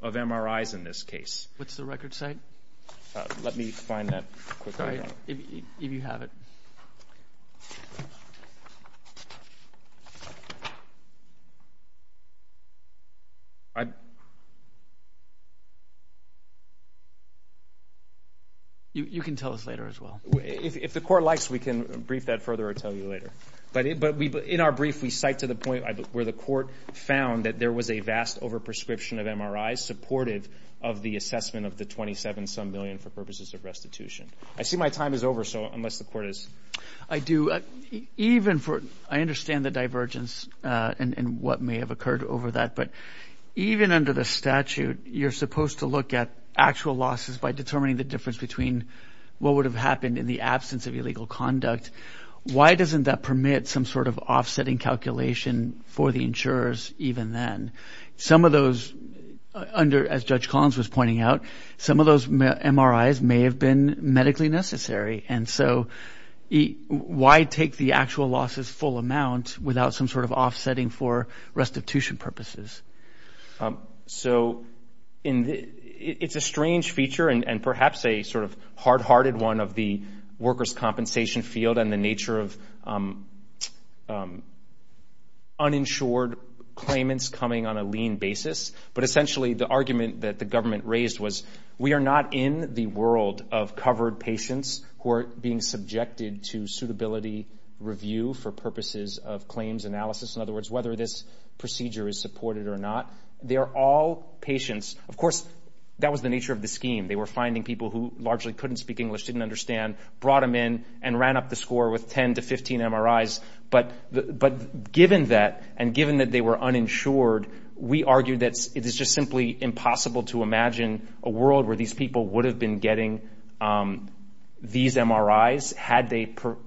of MRIs in this case. What's the record site? Let me find that quickly. If you have it. You can tell us later as well. If the court likes, we can brief that further or tell you later. But in our brief, we cite to the point where the court found that there was a vast overprescription of MRIs supportive of the assessment of the 27 some million for purposes of restitution. I see my time is over. So unless the court is I do even for I understand the divergence and what may have occurred over that. But even under the statute, you're supposed to look at actual losses by determining the difference between what would have happened in the absence of illegal conduct. Why doesn't that permit some sort of offsetting calculation for the insurers? Even then, some of those under as Judge Collins was pointing out, some of those MRIs may have been medically necessary. And so why take the actual losses full amount without some sort of offsetting for restitution purposes? So it's a strange feature and perhaps a sort of hard hearted one of the workers' compensation field and the nature of uninsured claimants coming on a lean basis. But essentially, the argument that the government raised was we are not in the world of covered patients who are being subjected to suitability review for purposes of claims analysis. In other words, whether this procedure is supported or not, they are all patients. Of course, that was the nature of the scheme. They were finding people who largely couldn't speak English, didn't understand, brought them in and ran up the score with 10 to 15 MRIs. But given that and given that they were uninsured, we argue that it is just simply impossible to imagine a world where these people would have been getting these MRIs had Mr.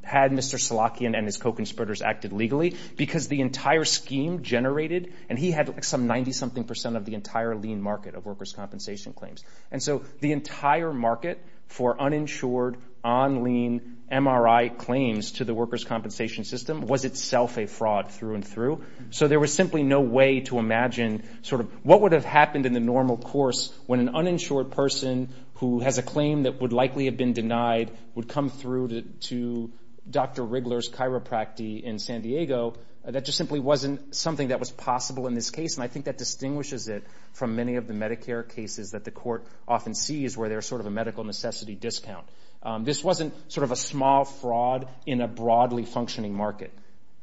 Salachian and his co-conspirators acted legally because the entire scheme generated, and he had some 90-something percent of the entire lean market of workers' compensation claims. And so the entire market for uninsured, on-lean MRI claims to the workers' compensation system was itself a fraud through and through. So there was simply no way to imagine sort of what would have happened in the normal course when an uninsured person who has a claim that would likely have been denied would come through to Dr. Riggler's chiropractic in San Diego. That just simply wasn't something that was possible in this case, and I think that distinguishes it from many of the Medicare cases that the court often sees where there's sort of a medical necessity discount. This wasn't sort of a small fraud in a broadly functioning market.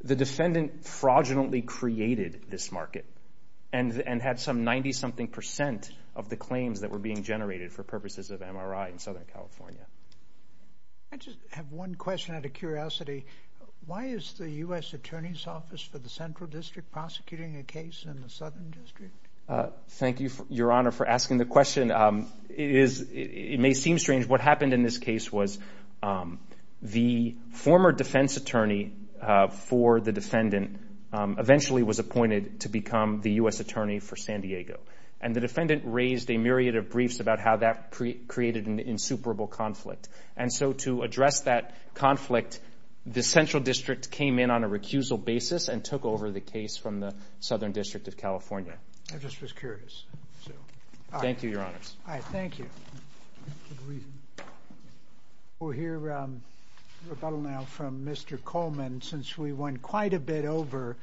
The defendant fraudulently created this market and had some 90-something percent of the claims that were being generated for purposes of MRI in Southern California. I just have one question out of curiosity. Why is the U.S. Attorney's Office for the Central District prosecuting a case in the Southern District of California? What happened in this case was the former defense attorney for the defendant eventually was appointed to become the U.S. Attorney for San Diego, and the defendant raised a myriad of briefs about how that created an insuperable conflict. And so to address that conflict, the Central District came in on a recusal basis and took over the case from the Southern District of California. We'll hear rebuttal now from Mr. Coleman. Since we went quite a bit over,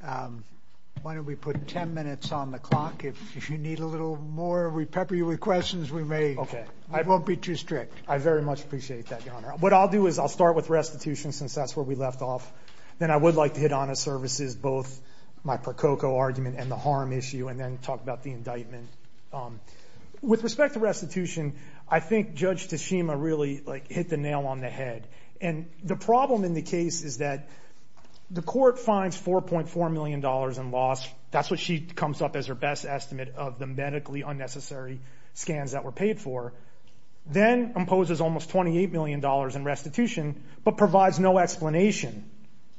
why don't we put 10 minutes on the clock? If you need a little more, we pepper you with questions we may. Okay. I won't be too strict. I very much appreciate that, Your Honor. What I'll do is I'll start with restitution since that's where we left off. Then I would like to hit honest services, both my Prococo argument and the harm issue, and then talk about the indictment. With respect to restitution, I think Judge Tashima really hit the nail on the head. And the problem in the case is that the court finds $4.4 million in loss. That's what she comes up as her best estimate of the medically unnecessary scans that were paid for. Then imposes almost $28 million in restitution, but provides no explanation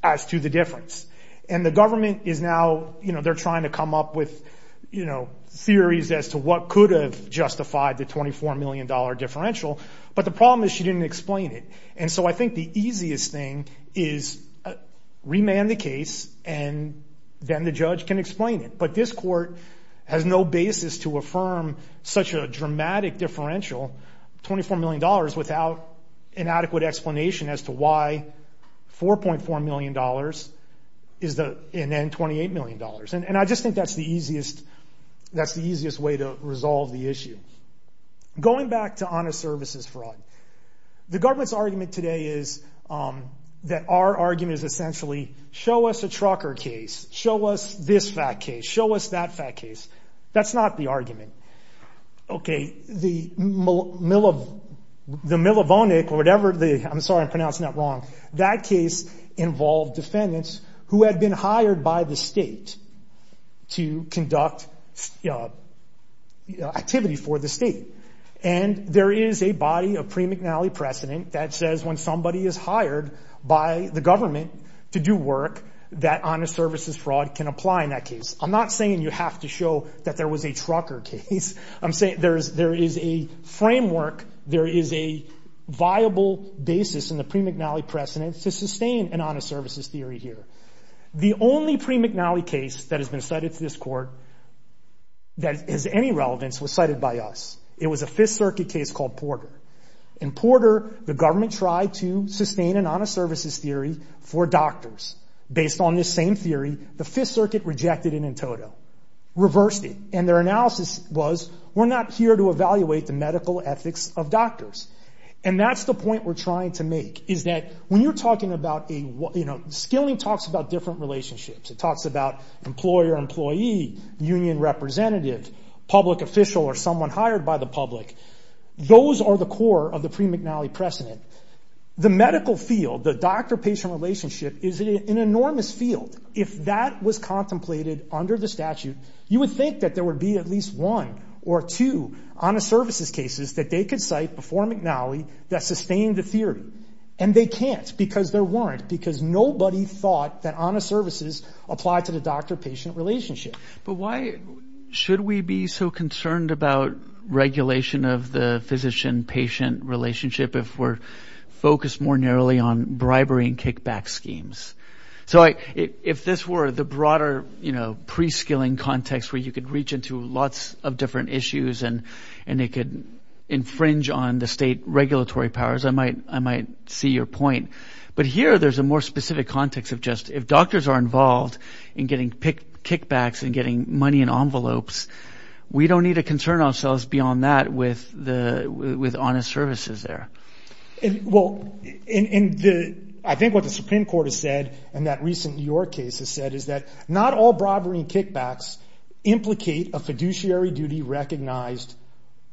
as to the difference. The government is now trying to come up with theories as to what could have justified the $24 million differential. But the problem is she didn't explain it. I think the easiest thing is remand the case, and then the judge can explain it. But this court has no basis to affirm such a dramatic differential, $24 million, without an adequate explanation as to why $4.4 million is the, and then $28 million. And I just think that's the easiest way to resolve the issue. Going back to honest services fraud, the government's argument today is that our argument is essentially show us a trucker case, show us this fat case, show us that fat case. That's not the argument. Okay, the millivonic or whatever the, I'm sorry, I'm pronouncing that hired by the state to conduct activity for the state. And there is a body, a pre-McNally precedent that says when somebody is hired by the government to do work, that honest services fraud can apply in that case. I'm not saying you have to show that there was a trucker case. I'm saying there is a framework, there is a viable basis in the pre-McNally precedent to sustain an honest services theory here. The only pre-McNally case that has been cited to this court that has any relevance was cited by us. It was a Fifth Circuit case called Porter. In Porter, the government tried to sustain an honest services theory for doctors. Based on this same theory, the Fifth Circuit rejected it in total, reversed it. And their analysis was, we're not here to evaluate the medical ethics of doctors. And that's the point we're trying to make, is that when you're talking about a, you know, skilling talks about different relationships. It talks about employer, employee, union representative, public official, or someone hired by the public. Those are the core of the pre-McNally precedent. The medical field, the doctor-patient relationship is an enormous field. If that was contemplated under the statute, you would think that there would be at least one or two honest services cases that they could cite before McNally that sustained the theory. And they can't, because there weren't. Because nobody thought that honest services applied to the doctor-patient relationship. But why should we be so concerned about regulation of the physician-patient relationship if we're focused more narrowly on bribery and kickback schemes? So if this were the broader, you know, pre-skilling context where you could reach into lots of different issues and it could infringe on the state regulatory powers, I might see your point. But here, there's a more specific context of just, if doctors are involved in getting kickbacks and getting money in envelopes, we don't need to concern ourselves beyond that with honest services there. Well, I think what the Supreme Court has said, and that recent New York case has said, is that not all bribery and kickbacks implicate a fiduciary duty recognized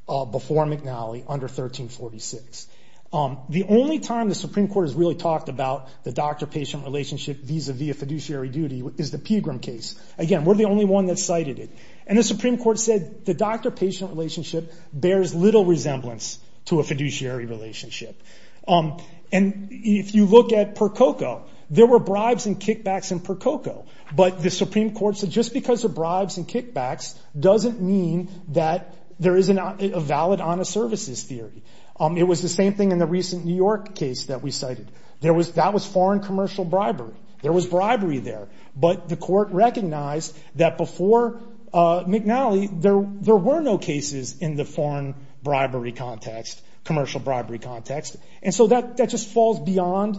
before McNally under 1346. The only time the Supreme Court has really talked about the doctor-patient relationship vis-a-vis a fiduciary duty is the Pegram case. Again, we're the only one that cited it. And the Supreme Court said the doctor-patient relationship bears little resemblance to a fiduciary relationship. And if you look at Percoco, there were bribes and kickbacks in Percoco. But the Supreme Court said just because of bribes and kickbacks doesn't mean that there isn't a valid honest services theory. It was the same thing in the recent New York case that we cited. That was foreign commercial bribery. There was bribery there. But the court recognized that before McNally, there were no cases in the foreign bribery context, commercial bribery context. And so that just falls beyond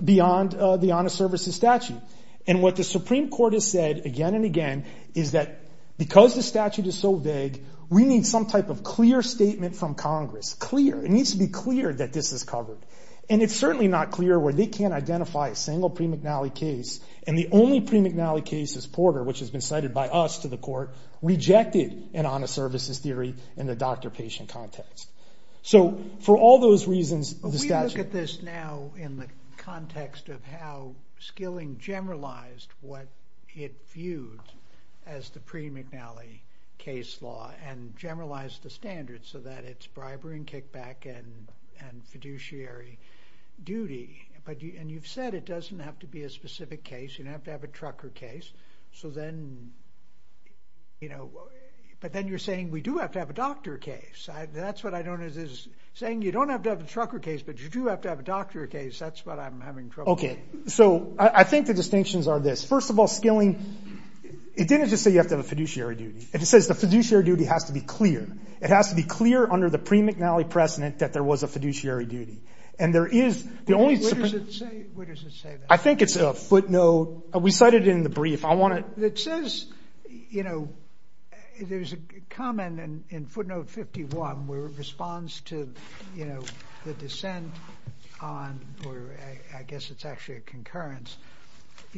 the honest services statute. And what the Supreme Court has said again and again is that because the statute is so vague, we need some type of clear statement from Congress, clear. It needs to be clear that this is covered. And it's certainly not clear where they can't identify a single pre-McNally case. And the only pre-McNally case is Porter, which has been cited by us to the court, rejected an honest services theory in the doctor-patient context. So for all those reasons, the statute... We look at this now in the context of how Skilling generalized what it viewed as the pre-McNally case law and generalized the standards so that it's bribery and kickback and fiduciary duty. And you've said it doesn't have to be a specific case. You don't have to... But then you're saying we do have to have a doctor case. That's what I don't... It is saying you don't have to have a trucker case, but you do have to have a doctor case. That's what I'm having trouble with. Okay. So I think the distinctions are this. First of all, Skilling, it didn't just say you have to have a fiduciary duty. It says the fiduciary duty has to be clear. It has to be clear under the pre-McNally precedent that there was a fiduciary duty. And there is the only... What does it say? What does it say? I think it's a footnote. We says there's a comment in footnote 51 where it responds to the dissent on, or I guess it's actually a concurrence,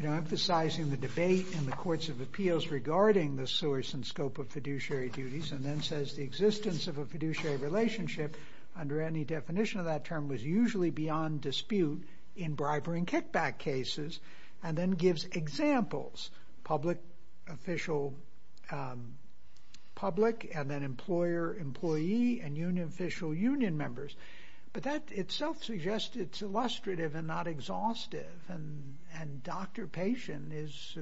emphasizing the debate in the courts of appeals regarding the source and scope of fiduciary duties and then says the existence of a fiduciary relationship under any definition of that term was usually beyond dispute in bribery and kickback cases and then gives examples, public, official, public, and then employer, employee, and uniofficial union members. But that itself suggests it's illustrative and not exhaustive. And doctor-patient is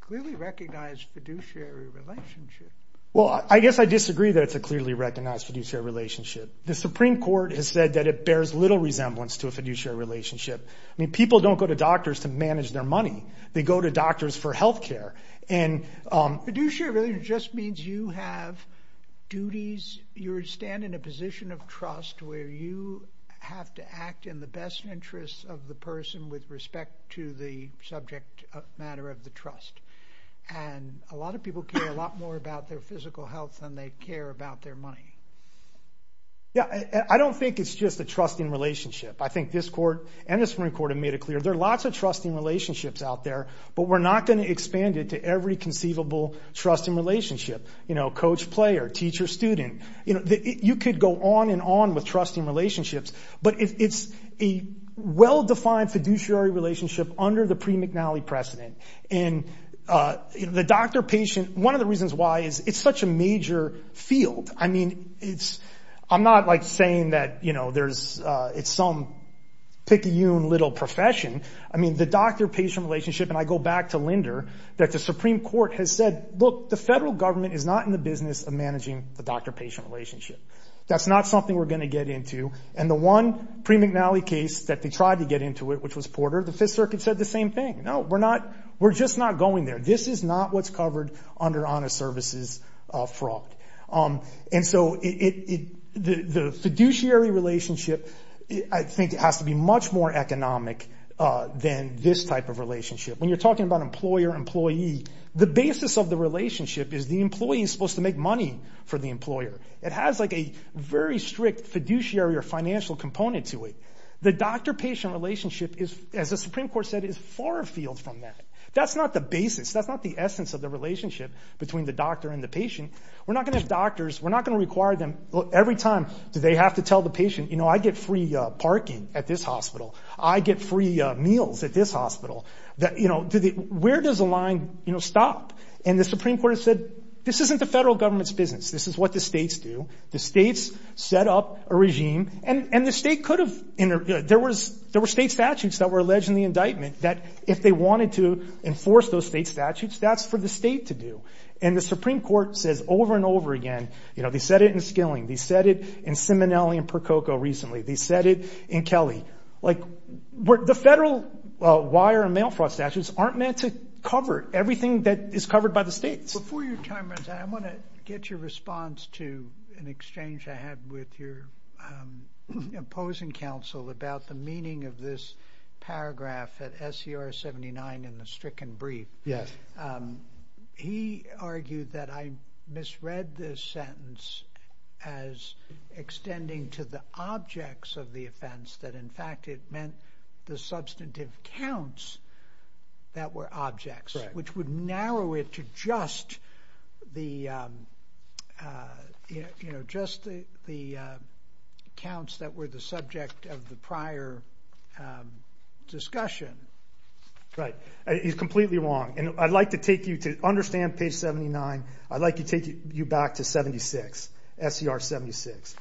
clearly recognized fiduciary relationship. Well, I guess I disagree that it's a clearly recognized fiduciary relationship. The Supreme Court has said that it bears little resemblance to a fiduciary relationship. I mean, people don't go to doctors to manage their money. They go to doctors for health care. Fiduciary relationship just means you have duties, you stand in a position of trust where you have to act in the best interests of the person with respect to the subject matter of the trust. And a lot of people care a lot more about their physical health than they care about their money. Yeah, I don't think it's just a trusting relationship. I think this court and the Supreme Court, there's lots of trusting relationships out there, but we're not going to expand it to every conceivable trusting relationship, coach-player, teacher-student. You could go on and on with trusting relationships, but it's a well-defined fiduciary relationship under the pre-McNally precedent. And the doctor-patient, one of the reasons why is it's such a major field. I mean, I'm not saying that it's some picky little profession. I mean, the doctor-patient relationship, and I go back to Linder, that the Supreme Court has said, look, the federal government is not in the business of managing the doctor-patient relationship. That's not something we're going to get into. And the one pre-McNally case that they tried to get into it, which was Porter, the Fifth Circuit said the same thing. No, we're just not going there. This is not what's going on. And so the fiduciary relationship, I think, has to be much more economic than this type of relationship. When you're talking about employer-employee, the basis of the relationship is the employee is supposed to make money for the employer. It has a very strict fiduciary or financial component to it. The doctor-patient relationship, as the Supreme Court said, is far afield from that. That's not the basis. That's not the essence of the relationship between the doctor and the patient. We're not going to have doctors, we're not going to require them every time do they have to tell the patient, you know, I get free parking at this hospital. I get free meals at this hospital. Where does the line stop? And the Supreme Court has said, this isn't the federal government's business. This is what the states do. The states set up a regime. And the state could have, there were state statutes that were alleged in the indictment that if they wanted to enforce those state statutes, that's for the state to do. And the Supreme Court says over and over again, you know, they said it in Skilling, they said it in Simonelli and Percoco recently, they said it in Kelly. The federal wire and mail fraud statutes aren't meant to cover everything that is covered by the states. Before your time runs out, I want to get your response to an exchange I had with your opposing counsel about the meaning of this paragraph at SCR 79 in the stricken brief. He argued that I misread this sentence as extending to the objects of the offense that in fact, it meant the substantive counts that were objects, which would narrow it to just the, you know, just the counts that were the subject of the prior discussion. Right. He's completely wrong. And I'd like to take you to understand page 79. I'd like to take you back to 76, SCR 76.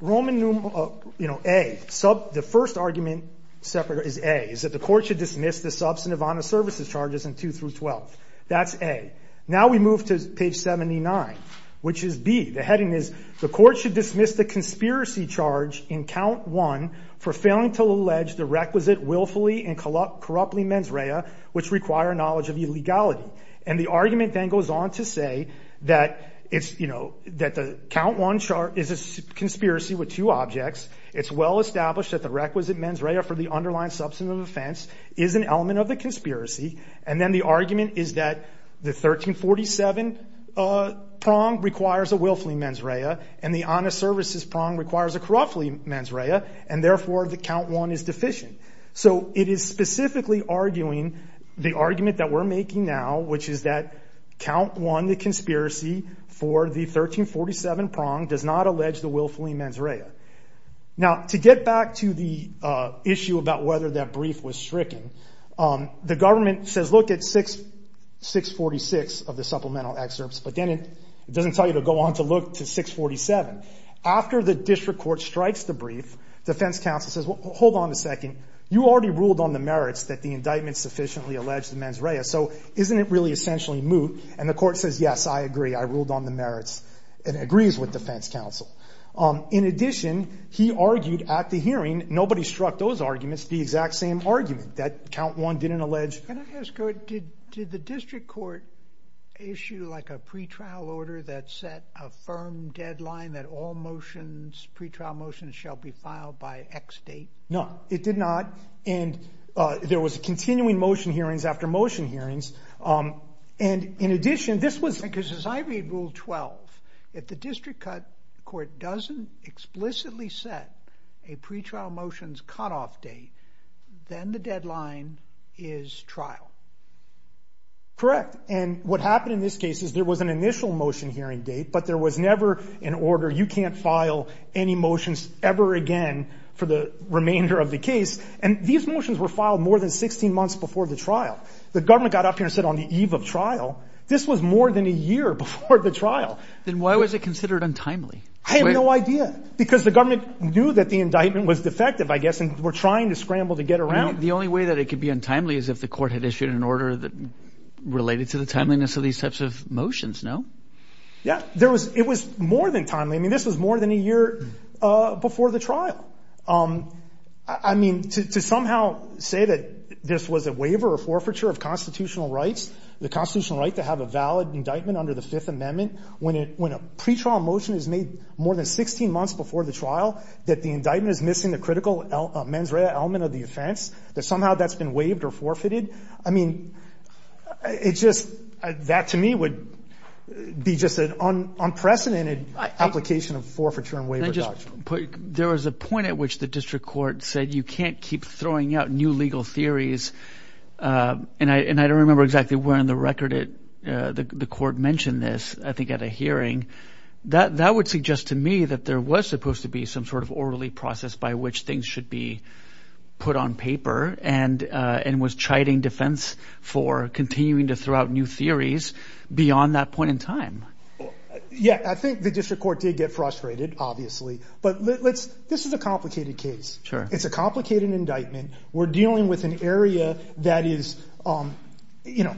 Roman numeral A, the first argument is A, that the court should dismiss the substantive honor services charges in two through 12. That's A. Now we move to page 79, which is B. The heading is the court should dismiss the conspiracy charge in count one for failing to allege the requisite willfully and corruptly mens rea, which require knowledge of illegality. And the argument then goes on to say that it's, you know, that the count one chart is a conspiracy with two objects. It's well established that the is an element of the conspiracy. And then the argument is that the 1347 prong requires a willfully mens rea and the honor services prong requires a corruptly mens rea. And therefore the count one is deficient. So it is specifically arguing the argument that we're making now, which is that count one, the conspiracy for the 1347 prong does not allege the willfully mens rea. Now to get back to the issue about whether that brief was stricken, the government says, look at 646 of the supplemental excerpts, but then it doesn't tell you to go on to look to 647. After the district court strikes the brief, defense counsel says, well, hold on a second. You already ruled on the merits that the indictment sufficiently alleged the mens rea. So isn't it really essentially moot? And the court says, yes, I agree. I ruled on the merits. It agrees with defense counsel. In addition, he argued at the hearing, nobody struck those arguments, the exact same argument that count one didn't allege. Can I ask, did the district court issue like a pre-trial order that set a firm deadline that all motions, pre-trial motions shall be filed by X date? No, it did not. And there was a continuing motion hearings after motion hearings. And in addition, this was because as I read rule 12, if the district court doesn't explicitly set a pre-trial motions cutoff date, then the deadline is trial. Correct. And what happened in this case is there was an initial motion hearing date, but there was never an order. You can't file any motions ever again for the remainder of the case. And these motions were filed more than 16 months before the trial. The government got up here and said on the eve of trial, this was more than a year before the trial. Then why was it considered untimely? I have no idea because the government knew that the indictment was defective, I guess, and we're trying to scramble to get around. The only way that it could be untimely is if the court had issued an order that related to the timeliness of these types of motions, no? Yeah, there was, it was more than timely. I mean, this was more than a year before the trial. I mean, to somehow say that this was a waiver or forfeiture of constitutional rights, the constitutional right to have a valid indictment under the Fifth Amendment, when a pre-trial motion is made more than 16 months before the trial, that the indictment is missing the critical mens rea element of the offense, that somehow that's been waived or forfeited, I mean, it just, that to me would be just an unprecedented application of forfeiture and waiver doctrine. There was a point at which the district court said you can't keep throwing out new legal theories, and I don't remember exactly when on the record the court mentioned this, I think at a hearing. That would suggest to me that there was supposed to be some sort of orderly process by which things should be put on paper and was chiding defense for continuing to throw out new theories beyond that point in time. Yeah, I think the district court did get frustrated, obviously, but let's, this is a complicated case. It's a complicated indictment. We're dealing with an area that is, you know,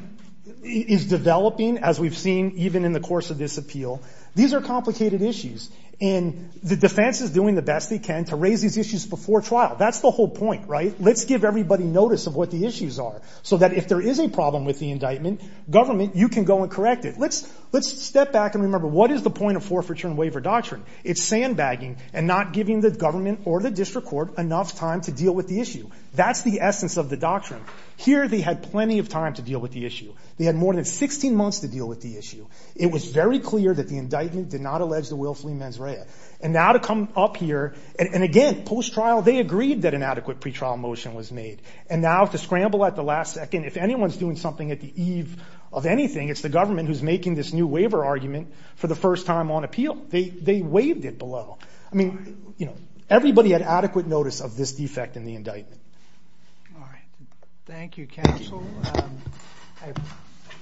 is developing as we've seen, even in the course of this appeal, these are complicated issues and the defense is doing the best they can to raise these issues before trial. That's the whole point, right? Let's give everybody notice of what the issues are so that if there is a problem with the indictment, government, you can go and correct it. Let's, let's step back and remember what is the point of forfeiture and waiver doctrine? It's sandbagging and not giving the government or the district court enough time to deal with the issue. That's the essence of the doctrine. Here, they had plenty of time to deal with the issue. They had more than 16 months to deal with the issue. It was very clear that the indictment did not allege the willfully mens rea. And now to come up here, and again, post-trial, they agreed that an adequate pretrial motion was made. And now to scramble at the last second, if anyone's doing something at the eve of anything, it's the government who's making this new waiver argument for the first time on appeal. They, they waived it below. I mean, you know, everybody had adequate notice of this defect in the indictment. All right. Thank you, counsel. Um, I,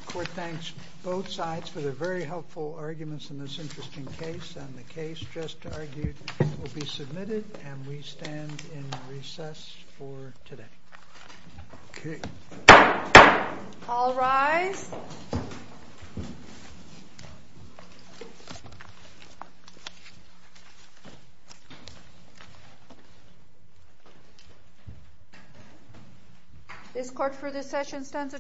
court thanks both sides for their very helpful arguments in this interesting case. And the case just argued will be submitted and we stand in recess for today. Okay. All rise. This court for this session stands adjourned.